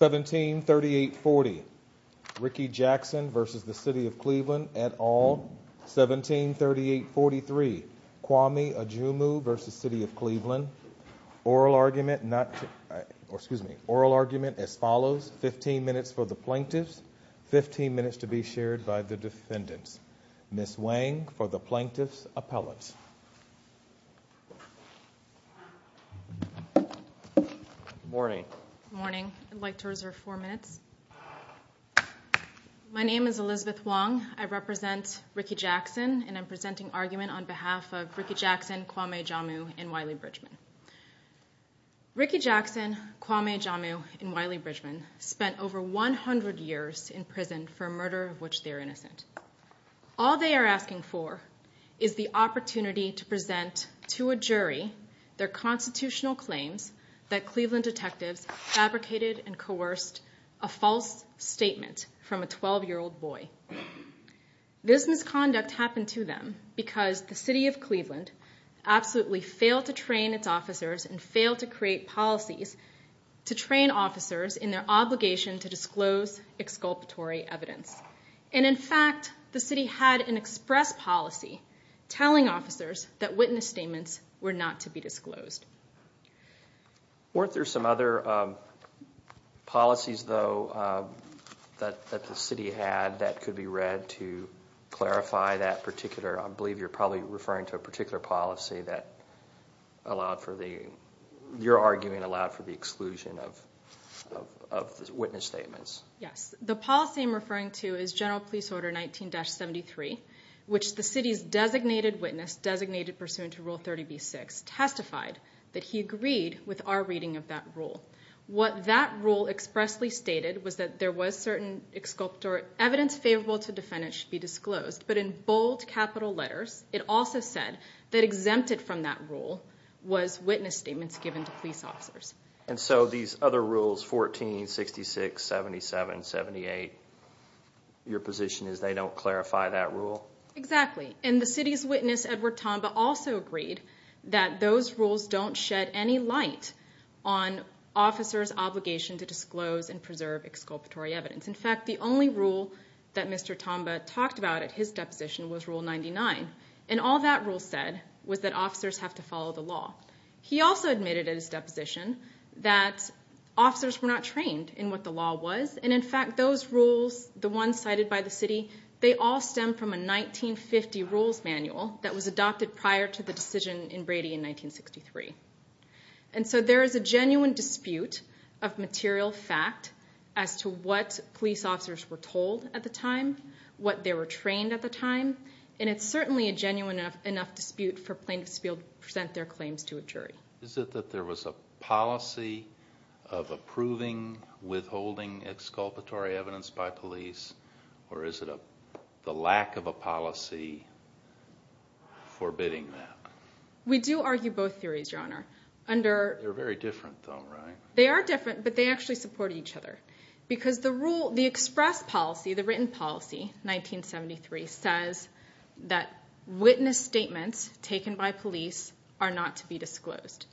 17-3840 Ricky Jackson v. City of Cleveland et al., 17-3843 Kwame Adjumu v. City of Cleveland, oral argument not or excuse me oral argument as follows 15 minutes for the plaintiffs 15 minutes to be shared by the defendants. Ms. Wang for the plaintiffs' appellate. Morning. Morning. I'd like to reserve four minutes. My name is Elizabeth Wong. I represent Ricky Jackson and I'm presenting argument on behalf of Ricky Jackson, Kwame Adjumu, and Wiley Bridgman spent over 100 years in prison for a murder of which they're innocent. All they are asking for is the opportunity to present to a jury their constitutional claims that Cleveland detectives fabricated and coerced a false statement from a 12-year-old boy. This misconduct happened to them because the City of Cleveland absolutely failed to train its officers and failed to create policies to train officers in their obligation to disclose exculpatory evidence and in fact the city had an express policy telling officers that witness statements were not to be disclosed. Weren't there some other policies though that the city had that could be read to clarify that particular I believe you're probably referring to a policy that allowed for the, you're arguing, allowed for the exclusion of witness statements? Yes, the policy I'm referring to is General Police Order 19-73 which the city's designated witness, designated pursuant to Rule 30b-6, testified that he agreed with our reading of that rule. What that rule expressly stated was that there was certain exculpatory evidence favorable to defendants should be disclosed but in bold capital letters it also said that exempted from that rule was witness statements given to police officers. And so these other rules 14, 66, 77, 78, your position is they don't clarify that rule? Exactly and the city's witness Edward Tomba also agreed that those rules don't shed any light on officers obligation to disclose and preserve exculpatory evidence. In fact the only rule that Mr. Tomba talked about at his deposition was Rule 99 and all that rule said was that officers have to follow the law. He also admitted at his deposition that officers were not trained in what the law was and in fact those rules, the ones cited by the city, they all stem from a 1950 rules manual that was adopted prior to the decision in Brady in 1963. And so there is a genuine dispute of material fact as to what police officers were told at the time, what they were trained at the time, and it's certainly a genuine enough dispute for plaintiffs to be able to present their claims to a jury. Is it that there was a policy of approving withholding exculpatory evidence by police or is it a the lack of a policy forbidding that? We do argue both theories, Your Honor. They're very different though, right? They are different but they actually support each other because the rule, the express policy, the written policy, 1973 says that witness statements taken by police are not to be disclosed.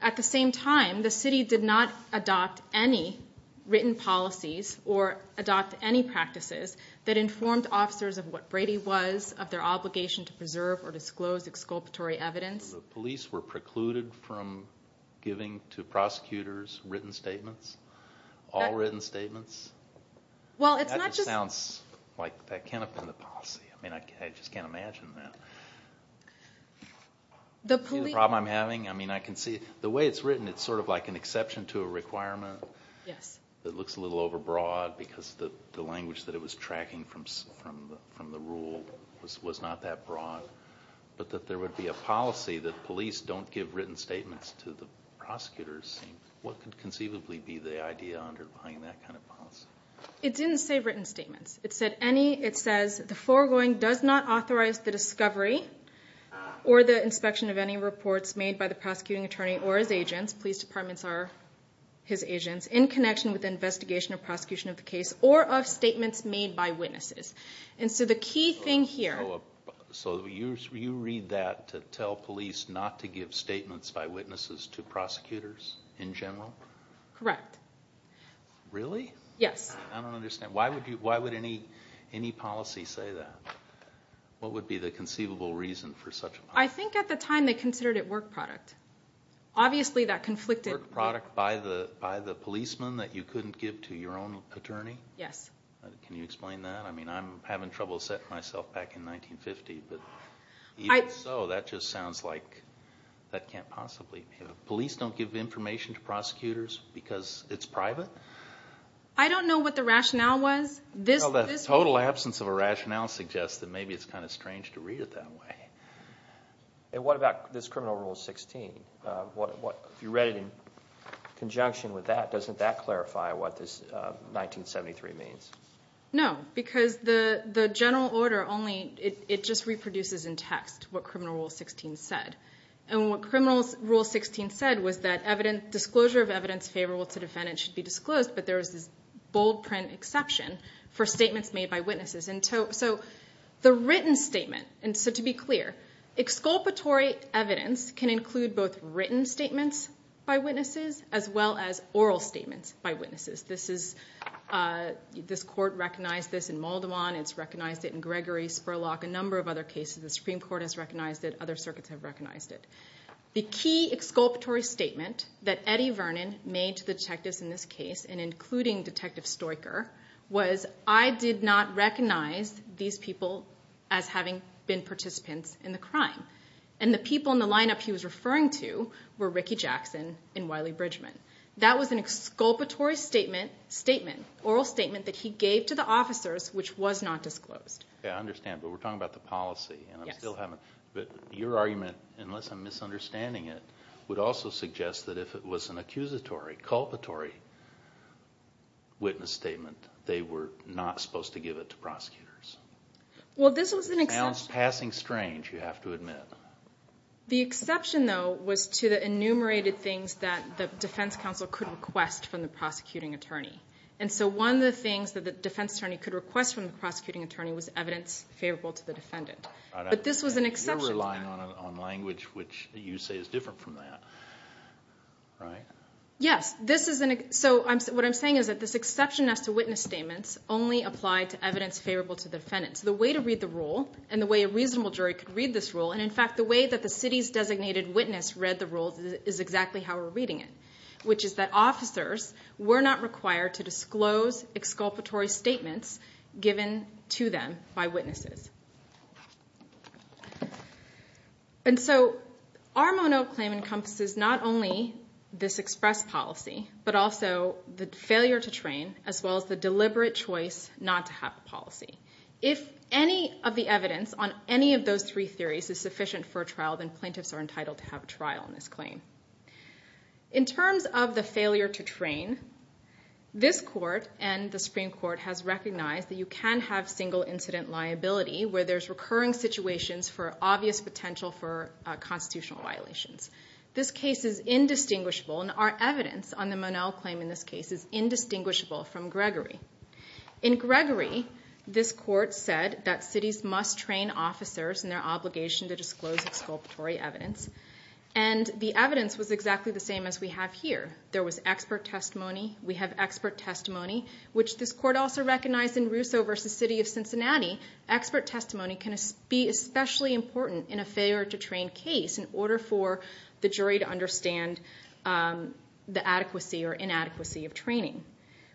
At the same time the city did not adopt any written policies or adopt any practices that informed officers of what Brady was, of their obligation to preserve or disclose exculpatory evidence. The police were precluded from giving to prosecutors written statements? All written statements? Well, it's not just... That just sounds like that can't have been the policy. I just can't imagine that. Do you see the problem I'm having? I mean I can see the way it's written it's sort of like an exception to a requirement that looks a little overbroad because the rule was not that broad but that there would be a policy that police don't give written statements to the prosecutors. What could conceivably be the idea underlying that kind of policy? It didn't say written statements. It said any, it says the foregoing does not authorize the discovery or the inspection of any reports made by the prosecuting attorney or his agents, police departments are his agents, in connection with the investigation or prosecution of the case or of statements made by witnesses. And so the key thing here... So you read that to tell police not to give statements by witnesses to prosecutors in general? Correct. Really? Yes. I don't understand. Why would any policy say that? What would be the conceivable reason for such a policy? I think at the time they considered it work product. Obviously that conflicted... Work product by the policeman that you couldn't give to your own attorney? Yes. Can you explain that? I mean I'm having trouble setting myself back in 1950 but even so that just sounds like that can't possibly... Police don't give information to prosecutors because it's private? I don't know what the rationale was. The total absence of a rationale suggests that maybe it's kind of strange to read it that way. And what about this criminal rule 16? If you read it in conjunction with that, doesn't that clarify what this 173 means? No. Because the general order only... It just reproduces in text what criminal rule 16 said. And what criminal rule 16 said was that disclosure of evidence favorable to defendants should be disclosed but there was this bold print exception for statements made by witnesses. And so the written statement... And so to be clear, exculpatory evidence can include both written statements by witnesses as well as oral statements by witnesses. This is... This court recognized this in Maldwan. It's recognized it in Gregory, Spurlock, a number of other cases. The Supreme Court has recognized it. Other circuits have recognized it. The key exculpatory statement that Eddie Vernon made to the detectives in this case, and including Detective Stoecker, was I did not recognize these people as having been participants in the crime. And the people in the lineup he was referring to were Ricky Jackson and Wiley Bridgman. That was an exculpatory statement, oral statement that he gave to the officers which was not disclosed. I understand. But we're talking about the policy. And I'm still having... But your argument, unless I'm misunderstanding it, would also suggest that if it was an accusatory, culpatory witness statement, they were not supposed to give it to prosecutors. Well, this was an exception... It sounds passing strange, you have to admit. The exception, though, was to the enumerated things that the defense counsel could request from the prosecuting attorney. And so one of the things that the defense attorney could request from the prosecuting attorney was evidence favorable to the defendant. But this was an exception... You're relying on language which you say is different from that, right? Yes. So what I'm saying is that this exception as to witness statements only apply to evidence favorable to the defendants. The way to read the rule, and the way a reasonable jury could read this rule, and in fact the way that the city's designated witness read the rule is exactly how we're reading it. Which is that officers were not required to disclose exculpatory statements given to them by witnesses. And so our mono-claim encompasses not only this express policy, but also the failure to train, as well as the deliberate choice not to have a policy. If any of the evidence on any of those three theories is sufficient for a trial, then plaintiffs are entitled to have a trial on this claim. In terms of the failure to train, this court and the Supreme Court has recognized that you can have single incident liability where there's recurring situations for obvious potential for constitutional violations. This case is indistinguishable, and our evidence on the mono-claim in this case is indistinguishable from Gregory. In Gregory, this court said that cities must train officers in their obligation to disclose exculpatory evidence, and the evidence was exactly the same as we have here. There was expert testimony. We have expert testimony, which this court also recognized in Russo v. City of Cincinnati. Expert testimony can be especially important in a failure to train case in order for the jury to understand the adequacy or inadequacy of training.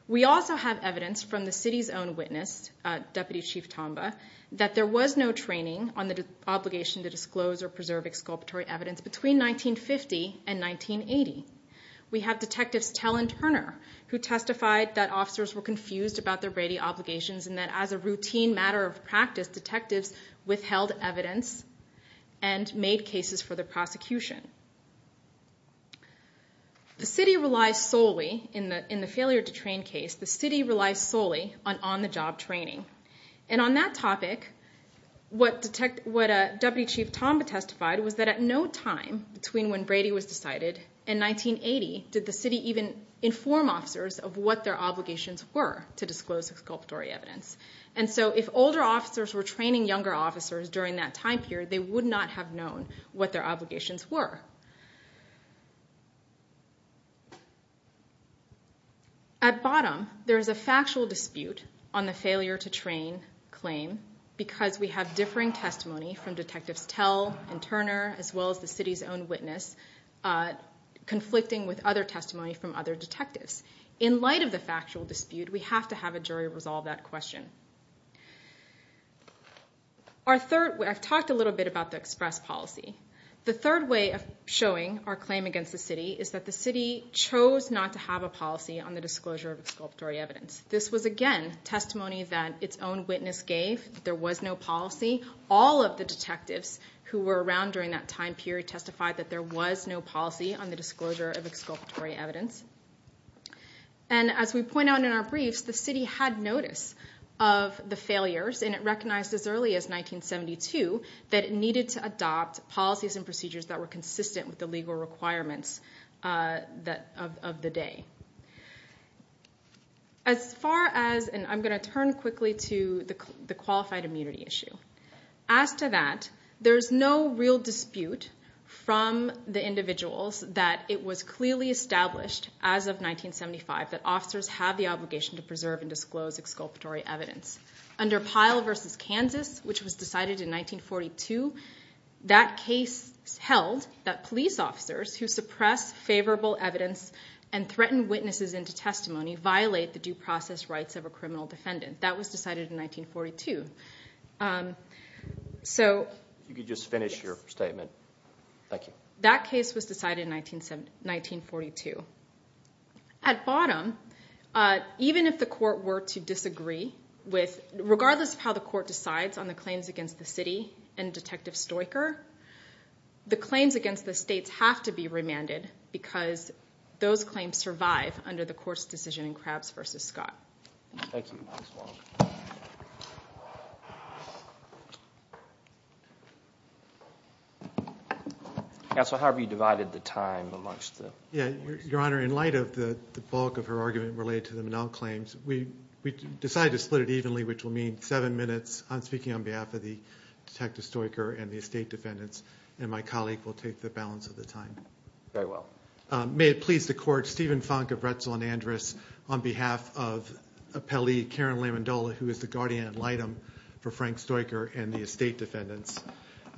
We also have evidence from the city's own witness, Deputy Chief Tomba, that there was no training on the obligation to disclose or preserve exculpatory evidence between 1950 and 1980. We have Detectives Tell and Turner, who testified that officers were confused about their Brady obligations and that as a routine matter of practice, detectives withheld evidence and made cases for the prosecution. The city relies solely on on-the-job training. And on that topic, what Deputy Chief Tomba testified was that at no time between when Brady was decided and 1980 did the city even inform officers of what their obligations were to disclose exculpatory evidence. If older officers were training younger officers during that time period, they would not have known what their obligations were. At bottom, there is a factual dispute on the failure to train claim because we have differing testimony from Detectives Tell and Turner, as well as the city's own witness, conflicting with other testimony from other detectives. In light of the factual dispute, we have to have a jury resolve that question. I've talked a little bit about the express policy. The third way of showing our claim against the city is that the city chose not to have a policy on the disclosure of exculpatory evidence. This was, again, testimony that its own witness gave that there was no policy. All of the detectives who were around during that time period testified that there was no policy on the disclosure of exculpatory evidence. And as we point out in our briefs, the city had notice of the failures and it recognized as early as 1972 that it needed to adopt policies and procedures that were consistent with the legal requirements of the day. I'm going to turn quickly to the qualified immunity issue. As to that, there is no real dispute from the individuals that it was clearly established as of 1975 that officers have the obligation to preserve and disclose exculpatory evidence. Under Pyle v. Kansas, which was decided in 1942, that case held that police officers who suppress favorable evidence and threaten witnesses into testimony violate the due process rights of a criminal defendant. That was decided in 1942. At bottom, even if the court were to disagree, regardless of how the court decides on the claims against the city and Detective Stoicher, the claims against the states have to be remanded because those claims survive under the court's decision in Krabs v. Scott. Counsel, how have you divided the time? Your Honor, in light of the bulk of her argument related to the Manelle claims, we decided to split it evenly, which will mean seven minutes. I'm speaking on behalf of Detective Stoicher and the estate defendants, and my colleague will take the balance of the time. Very well. May it please the Court, Stephen Funk of Retzel and Andrus, on behalf of appellee Karen Lamondola, who is the guardian ad litem for Frank Stoicher and the estate defendants.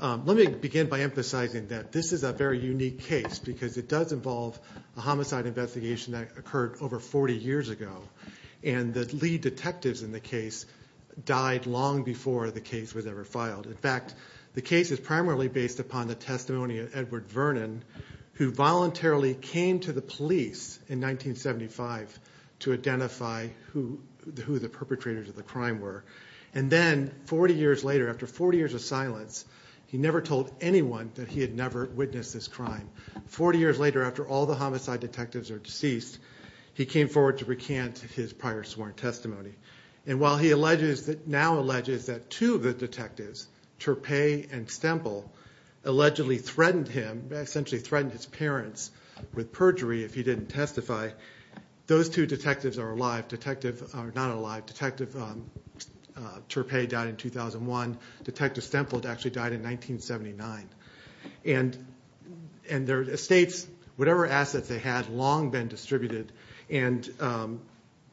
Let me begin by emphasizing that this is a very unique case because it does involve a homicide investigation that occurred over 40 years ago. The lead detectives in the case died long before the case was ever filed. In fact, the case is primarily based upon the testimony of Edward Vernon, who voluntarily came to the police in 1975 to identify who the perpetrators of the crime were. And then, 40 years later, after 40 years of silence, he never told anyone that he had never witnessed this crime. 40 years later, after all the homicide detectives are deceased, he came forward to recant his prior sworn testimony. And while he now alleges that two of the detectives, Turpay and Stemple, allegedly threatened him, essentially threatened his parents with perjury if he didn't testify, those two detectives are alive. Detective Turpay died in 2001. Detective Stemple actually died in 1979. And their estates, whatever assets they had, had long been distributed, and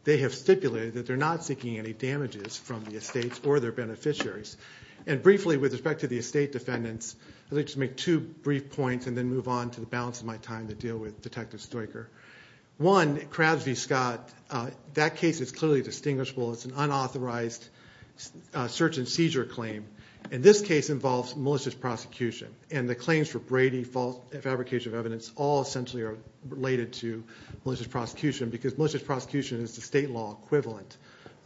they have stipulated that they're not seeking any damages from the estates or their beneficiaries. And briefly, with respect to the estate defendants, I'd like to make two brief points and then move on to the balance of my time to deal with Detective Stoicher. One, Crabs v. Scott, that case is clearly distinguishable. It's an unauthorized search and seizure claim. And this case involves malicious prosecution. And the claims for Brady, fabrication of evidence, all essentially are related to malicious prosecution because malicious prosecution is the state law equivalent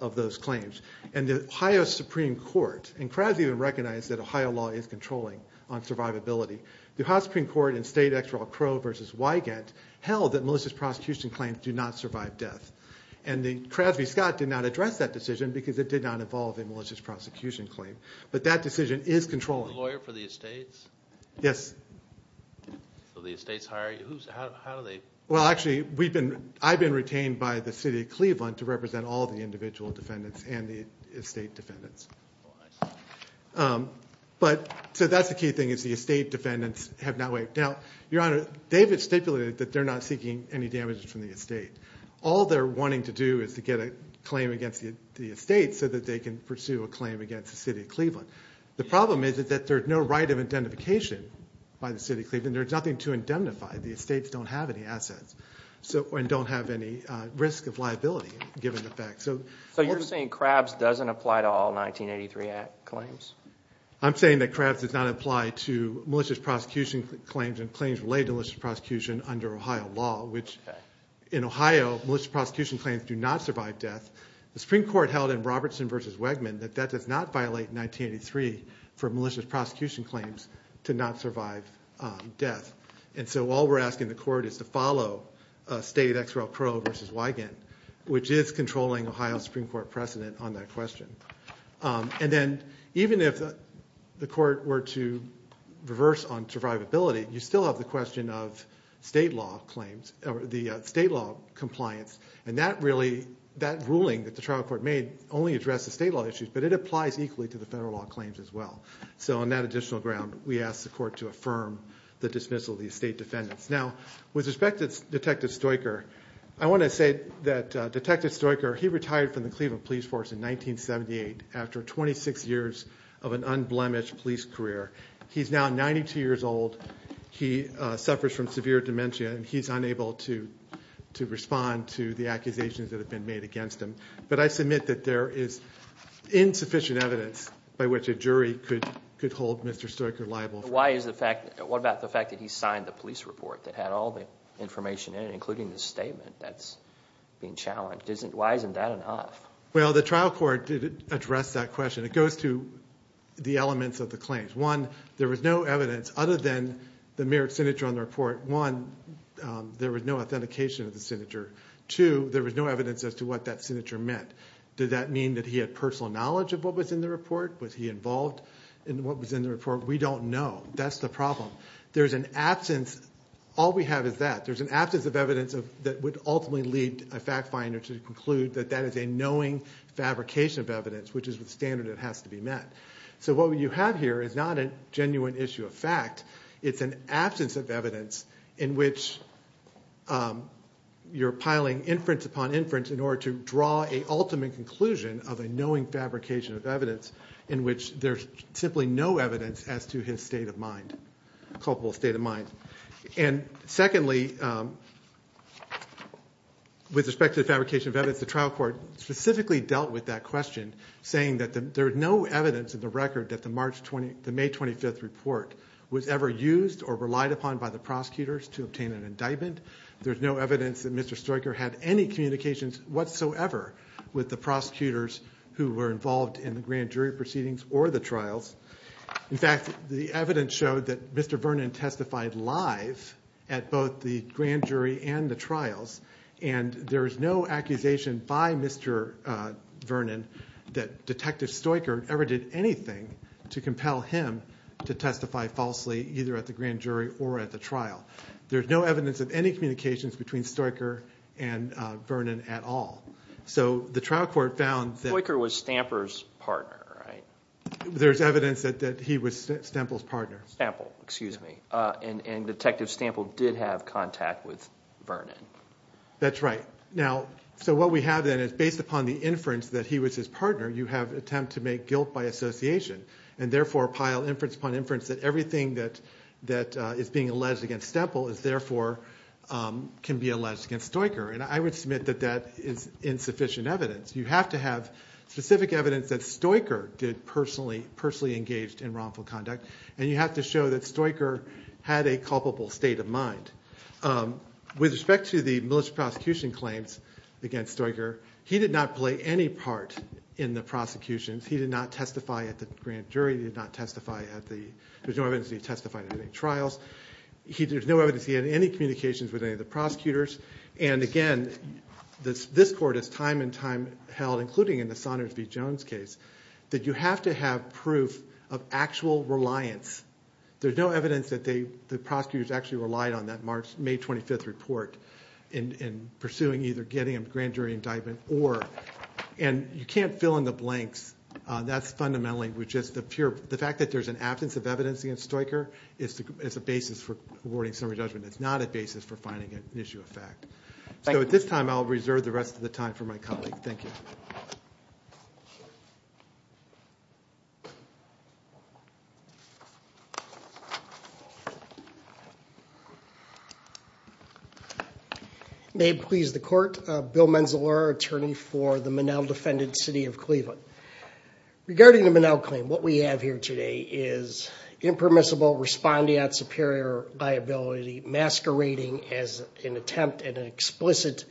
of those claims. And the Ohio Supreme Court, and Crabs even recognized that Ohio law is controlling on survivability, the Ohio Supreme Court in State X. Raul Crowe v. Wygant held that malicious prosecution claims do not survive death. And Crabs v. Scott did not address that decision because it did not involve a malicious prosecution claim. But that decision is controlling. Are you the lawyer for the estates? Yes. So the estates hire you? How do they? Well, actually, I've been retained by the city of Cleveland to represent all the individual defendants and the estate defendants. Oh, I see. So that's the key thing is the estate defendants have not waived. Now, Your Honor, they've stipulated that they're not seeking any damages from the estate. All they're wanting to do is to get a claim against the estate so that they can pursue a claim against the city of Cleveland. The problem is that there's no right of identification by the city of Cleveland. There's nothing to indemnify. The estates don't have any assets and don't have any risk of liability given the fact. So you're saying Crabs doesn't apply to all 1983 claims? I'm saying that Crabs does not apply to malicious prosecution claims and claims related to malicious prosecution under Ohio law. In Ohio, malicious prosecution claims do not survive death. The Supreme Court held in Robertson v. Wegman that that does not violate 1983 for malicious prosecution claims to not survive death. And so all we're asking the court is to follow stated X. Rel. Crow v. Wigand, which is controlling Ohio's Supreme Court precedent on that question. And then even if the court were to reverse on survivability, you still have the question of state law compliance. And that ruling that the trial court made only addresses state law issues, but it applies equally to the federal law claims as well. So on that additional ground, we ask the court to affirm the dismissal of the estate defendants. Now, with respect to Detective Stoecker, I want to say that Detective Stoecker, he retired from the Cleveland Police Force in 1978 after 26 years of an unblemished police career. He's now 92 years old. He suffers from severe dementia, and he's unable to respond to the accusations that have been made against him. But I submit that there is insufficient evidence by which a jury could hold Mr. Stoecker liable. Why is the fact – what about the fact that he signed the police report that had all the information in it, including the statement that's being challenged? Why isn't that enough? Well, the trial court did address that question. It goes to the elements of the claims. One, there was no evidence other than the mere signature on the report. One, there was no authentication of the signature. Two, there was no evidence as to what that signature meant. Did that mean that he had personal knowledge of what was in the report? Was he involved in what was in the report? We don't know. That's the problem. There's an absence – all we have is that. There's an absence of evidence that would ultimately lead a fact finder to conclude that that is a knowing fabrication of evidence, which is the standard that has to be met. So what you have here is not a genuine issue of fact. It's an absence of evidence in which you're piling inference upon inference in order to draw an ultimate conclusion of a knowing fabrication of evidence in which there's simply no evidence as to his state of mind – culpable state of mind. Secondly, with respect to the fabrication of evidence, the trial court specifically dealt with that question, saying that there's no evidence in the record that the May 25th report was ever used or relied upon by the prosecutors to obtain an indictment. There's no evidence that Mr. Stryker had any communications whatsoever with the prosecutors who were involved in the grand jury proceedings or the trials. In fact, the evidence showed that Mr. Vernon testified live at both the grand jury and the trials, and there's no accusation by Mr. Vernon that Detective Stryker ever did anything to compel him to testify falsely either at the grand jury or at the trial. There's no evidence of any communications between Stryker and Vernon at all. So the trial court found that – Stryker was Stamper's partner, right? There's evidence that he was Stamper's partner. Stamper, excuse me. And Detective Stamper did have contact with Vernon. That's right. Now, so what we have then is based upon the inference that he was his partner, you have an attempt to make guilt by association, and therefore pile inference upon inference that everything that is being alleged against Stamper is therefore – can be alleged against Stryker. And I would submit that that is insufficient evidence. You have to have specific evidence that Stryker did personally engage in wrongful conduct, and you have to show that Stryker had a culpable state of mind. With respect to the military prosecution claims against Stryker, he did not play any part in the prosecutions. He did not testify at the grand jury. He did not testify at the – there's no evidence that he testified at any trials. There's no evidence he had any communications with any of the prosecutors. And again, this court has time and time held, including in the Saunders v. Jones case, that you have to have proof of actual reliance. There's no evidence that the prosecutors actually relied on that May 25th report in pursuing either getting a grand jury indictment or – and you can't fill in the blanks. That's fundamentally – the fact that there's an absence of evidence against Stryker is a basis for awarding summary judgment. It's not a basis for finding an issue of fact. So at this time, I'll reserve the rest of the time for my colleague. Thank you. May it please the Court, Bill Menzel, our attorney for the Monell-defended city of Cleveland. Regarding the Monell claim, what we have here today is impermissible, responding at superior liability, masquerading as an attempt at an explicit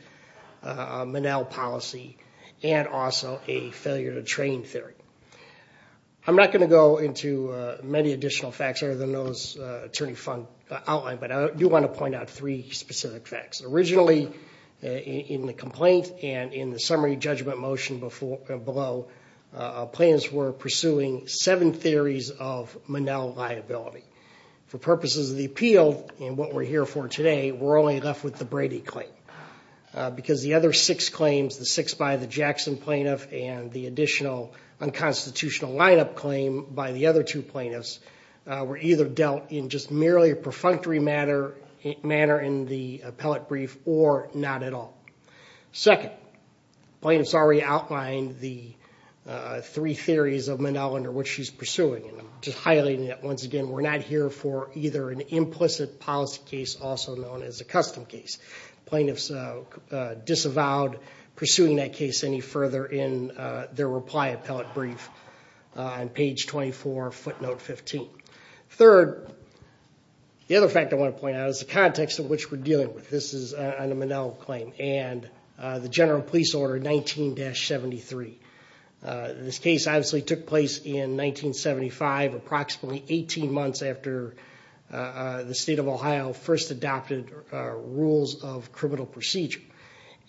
Monell policy, and also a failure to train theory. I'm not going to go into many additional facts other than those the attorney outlined, but I do want to point out three specific facts. Originally, in the complaint and in the summary judgment motion below, plaintiffs were pursuing seven theories of Monell liability. For purposes of the appeal and what we're here for today, we're only left with the Brady claim. Because the other six claims, the six by the Jackson plaintiff and the additional unconstitutional lineup claim by the other two plaintiffs, were either dealt in just merely a perfunctory manner in the appellate brief or not at all. Second, plaintiffs already outlined the three theories of Monell under which she's pursuing, and I'm just highlighting that once again. We're not here for either an implicit policy case, also known as a custom case. Plaintiffs disavowed pursuing that case any further in their reply appellate brief on page 24, footnote 15. Third, the other fact I want to point out is the context in which we're dealing with this Monell claim and the general police order 19-73. This case obviously took place in 1975, approximately 18 months after the state of Ohio first adopted rules of criminal procedure.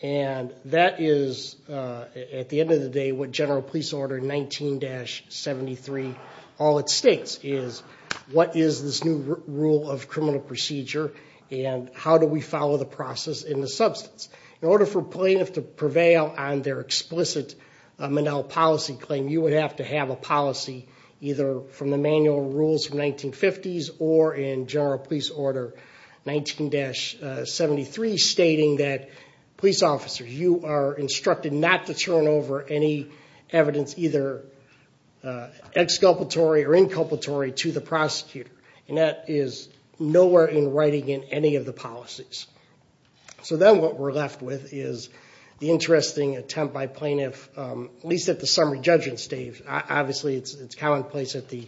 And that is, at the end of the day, what general police order 19-73 all it states is what is this new rule of criminal procedure and how do we follow the process in the substance. In order for a plaintiff to prevail on their explicit Monell policy claim, you would have to have a policy either from the manual rules from 1950s or in general police order 19-73, stating that police officers, you are instructed not to turn over any evidence, either exculpatory or inculpatory, to the prosecutor. And that is nowhere in writing in any of the policies. So then what we're left with is the interesting attempt by plaintiffs, at least at the summary judgment stage, obviously it's commonplace at the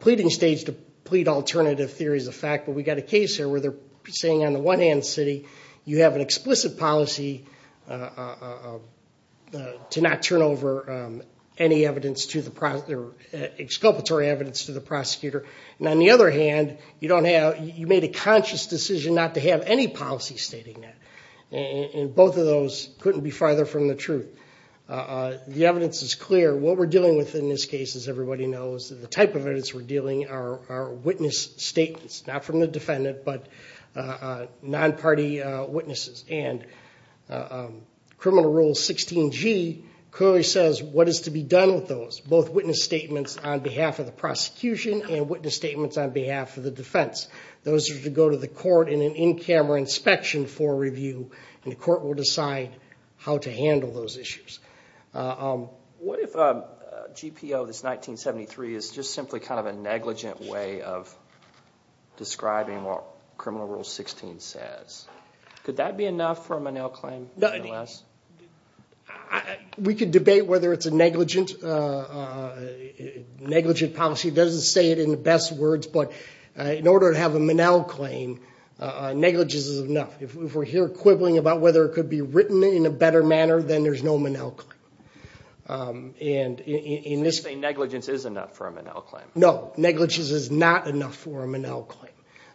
pleading stage to plead alternative theories of fact, but we've got a case here where they're saying on the one hand, city, you have an explicit policy to not turn over any evidence to the prosecutor, either exculpatory evidence to the prosecutor. And on the other hand, you made a conscious decision not to have any policy stating that. And both of those couldn't be farther from the truth. The evidence is clear. What we're dealing with in this case, as everybody knows, the type of evidence we're dealing are witness statements, not from the defendant, but non-party witnesses. And Criminal Rule 16G clearly says what is to be done with those, both witness statements on behalf of the prosecution and witness statements on behalf of the defense. Those are to go to the court in an in-camera inspection for review, and the court will decide how to handle those issues. What if GPO, this 1973, is just simply kind of a negligent way of describing what Criminal Rule 16 says? Could that be enough for a Monell claim? We could debate whether it's a negligent policy. It doesn't say it in the best words, but in order to have a Monell claim, negligence is enough. If we're here quibbling about whether it could be written in a better manner, then there's no Monell claim. So you're saying negligence is enough for a Monell claim? No, negligence is not enough for a Monell claim.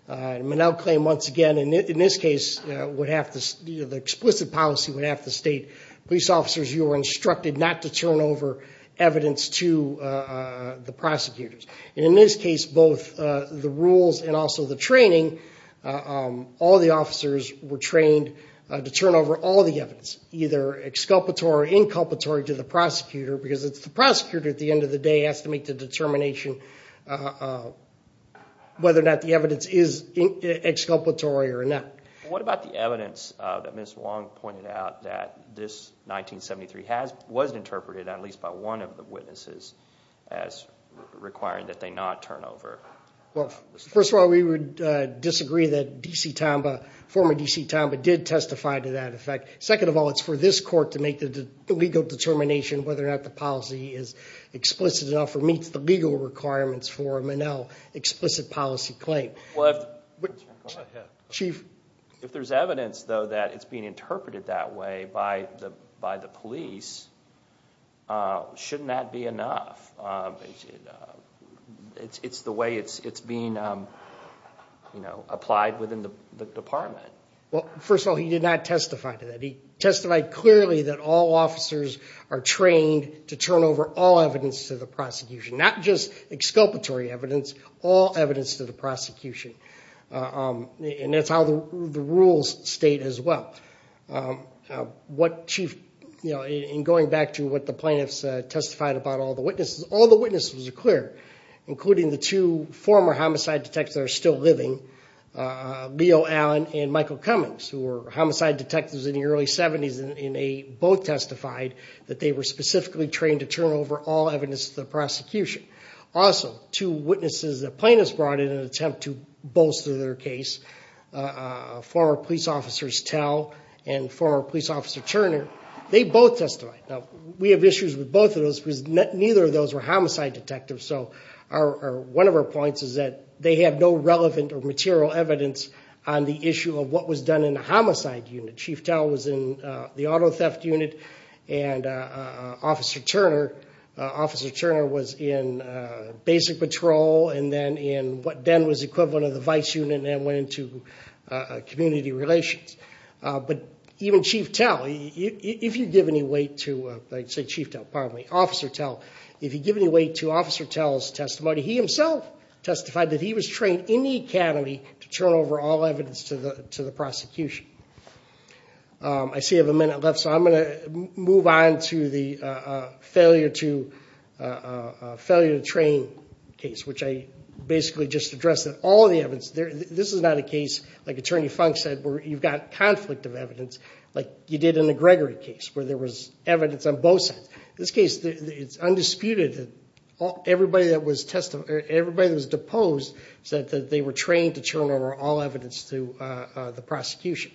A Monell claim, once again, in this case, the explicit policy would have to state, police officers, you were instructed not to turn over evidence to the prosecutors. In this case, both the rules and also the training, all the officers were trained to turn over all the evidence, either exculpatory or inculpatory to the prosecutor, because it's the prosecutor at the end of the day who has to make the determination whether or not the evidence is exculpatory or not. What about the evidence that Ms. Wong pointed out that this 1973 was interpreted, at least by one of the witnesses, as requiring that they not turn over? First of all, we would disagree that former D.C. Tomba did testify to that effect. Second of all, it's for this court to make the legal determination whether or not the policy is explicit enough or meets the legal requirements for a Monell explicit policy claim. If there's evidence, though, that it's being interpreted that way by the police, shouldn't that be enough? It's the way it's being applied within the department. First of all, he did not testify to that. He testified clearly that all officers are trained to turn over all evidence to the prosecution, not just exculpatory evidence, all evidence to the prosecution. That's how the rules state as well. Going back to what the plaintiffs testified about all the witnesses, all the witnesses were clear, including the two former homicide detectives that are still living, Leo Allen and Michael Cummings, who were homicide detectives in the early 70s, and they both testified that they were specifically trained to turn over all evidence to the prosecution. Also, two witnesses that plaintiffs brought in an attempt to bolster their case, former police officers Tell and former police officer Turner, they both testified. Now, we have issues with both of those because neither of those were homicide detectives, so one of our points is that they have no relevant or material evidence on the issue of what was done in the homicide unit. Chief Tell was in the auto theft unit and Officer Turner was in basic patrol and then was the equivalent of the vice unit and then went into community relations. But even Officer Tell, if you give any weight to Officer Tell's testimony, he himself testified that he was trained in the academy to turn over all evidence to the prosecution. I see I have a minute left, so I'm going to move on to the failure to train case, which I basically just addressed all the evidence. This is not a case, like Attorney Funk said, where you've got conflict of evidence, like you did in the Gregory case where there was evidence on both sides. This case, it's undisputed that everybody that was deposed said that they were trained to turn over all evidence to the prosecution.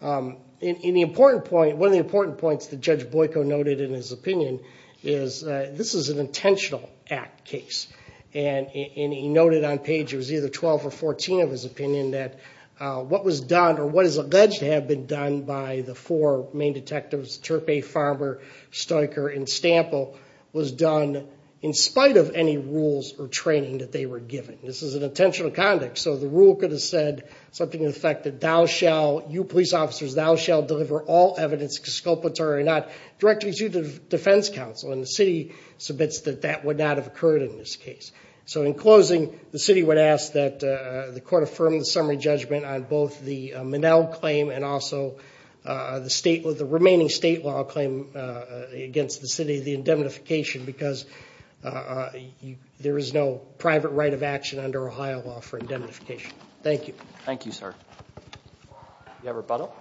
One of the important points that Judge Boyko noted in his opinion is this is an intentional act case. And he noted on page, it was either 12 or 14 of his opinion that what was done or what is alleged to have been done by the four main detectives, Turpey, Farber, Stoecker, and Stample, was done in spite of any rules or training that they were given. This is an intentional conduct, so the rule could have said something to the effect that you police officers, thou shalt deliver all evidence, exculpatory or not, directly to the defense counsel. And the city submits that that would not have occurred in this case. So in closing, the city would ask that the court affirm the summary judgment on both the Minnell claim and also the remaining state law claim against the city, the indemnification, because there is no private right of action under Ohio law for indemnification. Thank you. Thank you, sir. Do you have a rebuttal?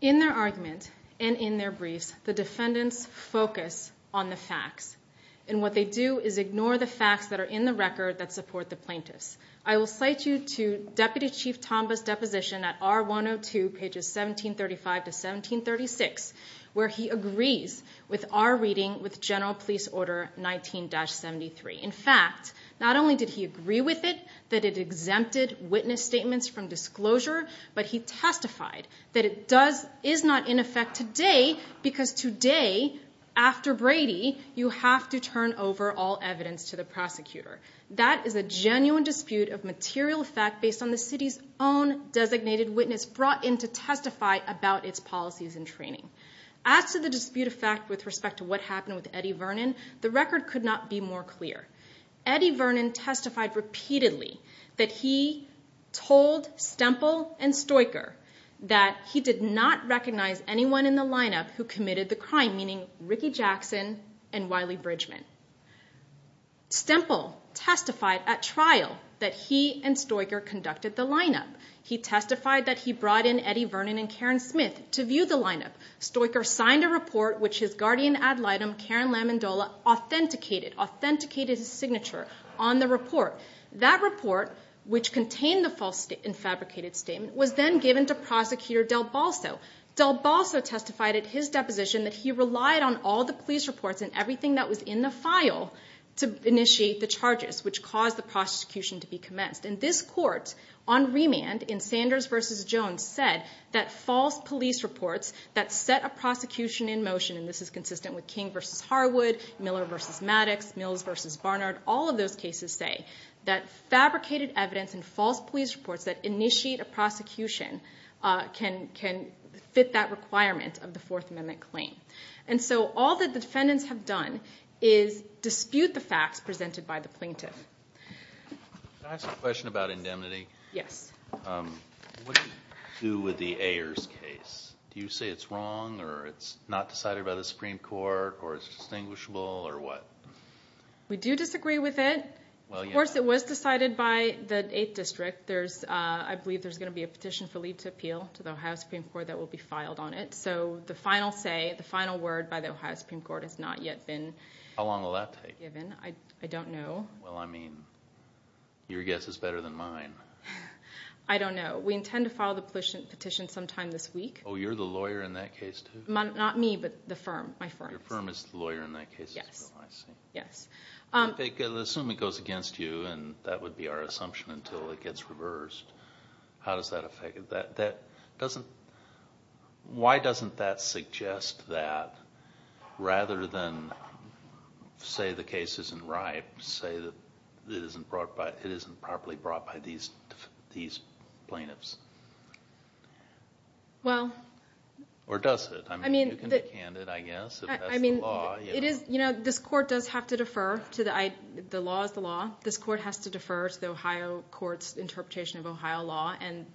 In their argument and in their briefs, the defendants focus on the facts. And what they do is ignore the facts that are in the record that support the plaintiffs. I will cite you to Deputy Chief Tombaugh's deposition at R102, pages 1735 to 1736, where he agrees with our reading with General Police Order 19-73. In fact, not only did he agree with it, that it exempted witness statements from disclosure, but he testified that it is not in effect today because today, after Brady, you have to turn over all evidence to the prosecutor. That is a genuine dispute of material fact based on the city's own designated witness brought in to testify about its policies and training. As to the dispute of fact with respect to what happened with Eddie Vernon, the record could not be more clear. Eddie Vernon testified repeatedly that he told Stemple and Stoicher that he did not recognize anyone in the lineup who committed the crime, meaning Ricky Jackson and Wiley Bridgman. Stemple testified at trial that he and Stoicher conducted the lineup. He testified that he brought in Eddie Vernon and Karen Smith to view the lineup. Stoicher signed a report which his guardian ad litem, Karen Lamondola, authenticated his signature on the report. That report, which contained the fabricated statement, was then given to Prosecutor Del Balso. Del Balso testified at his deposition that he relied on all the police reports and everything that was in the file to initiate the charges, which caused the prosecution to be commenced. This court on remand in Sanders v. Jones said that false police reports that set a prosecution in motion, and this is consistent with King v. Harwood, Miller v. Maddox, Mills v. Barnard, all of those cases say that fabricated evidence and false police reports that initiate a prosecution can fit that requirement of the Fourth Amendment claim. All that the defendants have done is dispute the facts presented by the plaintiff. Can I ask a question about indemnity? Yes. What do you do with the Ayers case? Do you say it's wrong or it's not decided by the Supreme Court or it's distinguishable or what? We do disagree with it. Of course it was decided by the 8th District. I believe there's going to be a petition for leave to appeal to the Ohio Supreme Court that will be filed on it. So the final say, the final word by the Ohio Supreme Court has not yet been given. How long will that take? I don't know. Well, I mean, your guess is better than mine. I don't know. We intend to file the petition sometime this week. Oh, you're the lawyer in that case too? Not me, but the firm, my firm. Your firm is the lawyer in that case as well, I see. Yes. Assume it goes against you and that would be our assumption until it gets reversed. How does that affect it? Why doesn't that suggest that rather than say the case isn't right, say it isn't properly brought by these plaintiffs? Well. Or does it? I mean, you can be candid, I guess. I mean, this court does have to defer. The law is the law. This court has to defer to the Ohio court's interpretation of Ohio law and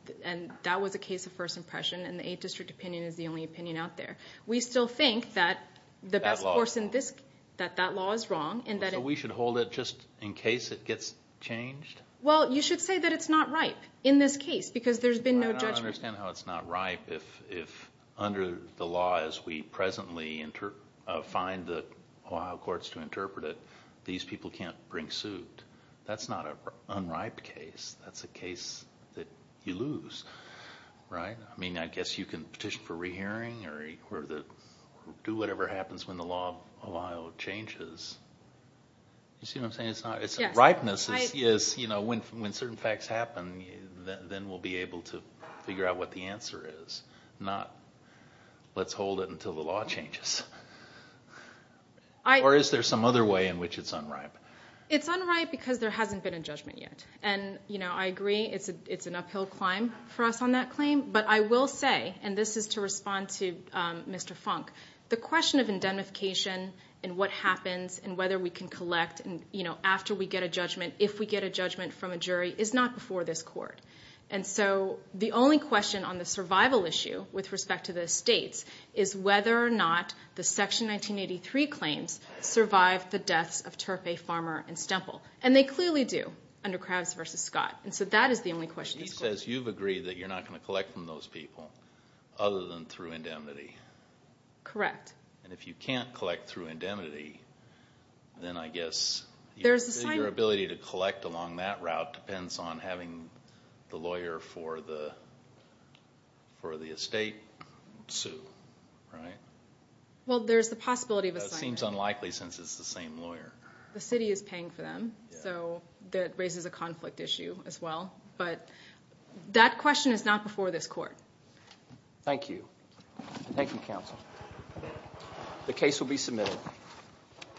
that was a case of first impression and the 8th District opinion is the only opinion out there. We still think that that law is wrong. So we should hold it just in case it gets changed? Well, you should say that it's not right in this case because there's been no judgment. I understand how it's not right if under the law as we presently find the Ohio courts to interpret it, these people can't bring suit. That's not an unripe case. That's a case that you lose, right? I mean, I guess you can petition for rehearing or do whatever happens when the law of Ohio changes. You see what I'm saying? Unripeness is when certain facts happen, then we'll be able to figure out what the answer is, not let's hold it until the law changes. Or is there some other way in which it's unripe? It's unripe because there hasn't been a judgment yet. And I agree it's an uphill climb for us on that claim. But I will say, and this is to respond to Mr. Funk, the question of indemnification and what happens and whether we can collect after we get a judgment, if we get a judgment from a jury, is not before this court. And so the only question on the survival issue with respect to the estates is whether or not the Section 1983 claims survive the deaths of Turpe, Farmer, and Stemple. And they clearly do under Krauss v. Scott. And so that is the only question. He says you've agreed that you're not going to collect from those people other than through indemnity. Correct. And if you can't collect through indemnity, then I guess your ability to collect along that route depends on having the lawyer for the estate sue, right? Well, there's the possibility of assignment. That seems unlikely since it's the same lawyer. The city is paying for them, so that raises a conflict issue as well. But that question is not before this court. Thank you. Thank you, counsel. The case will be submitted.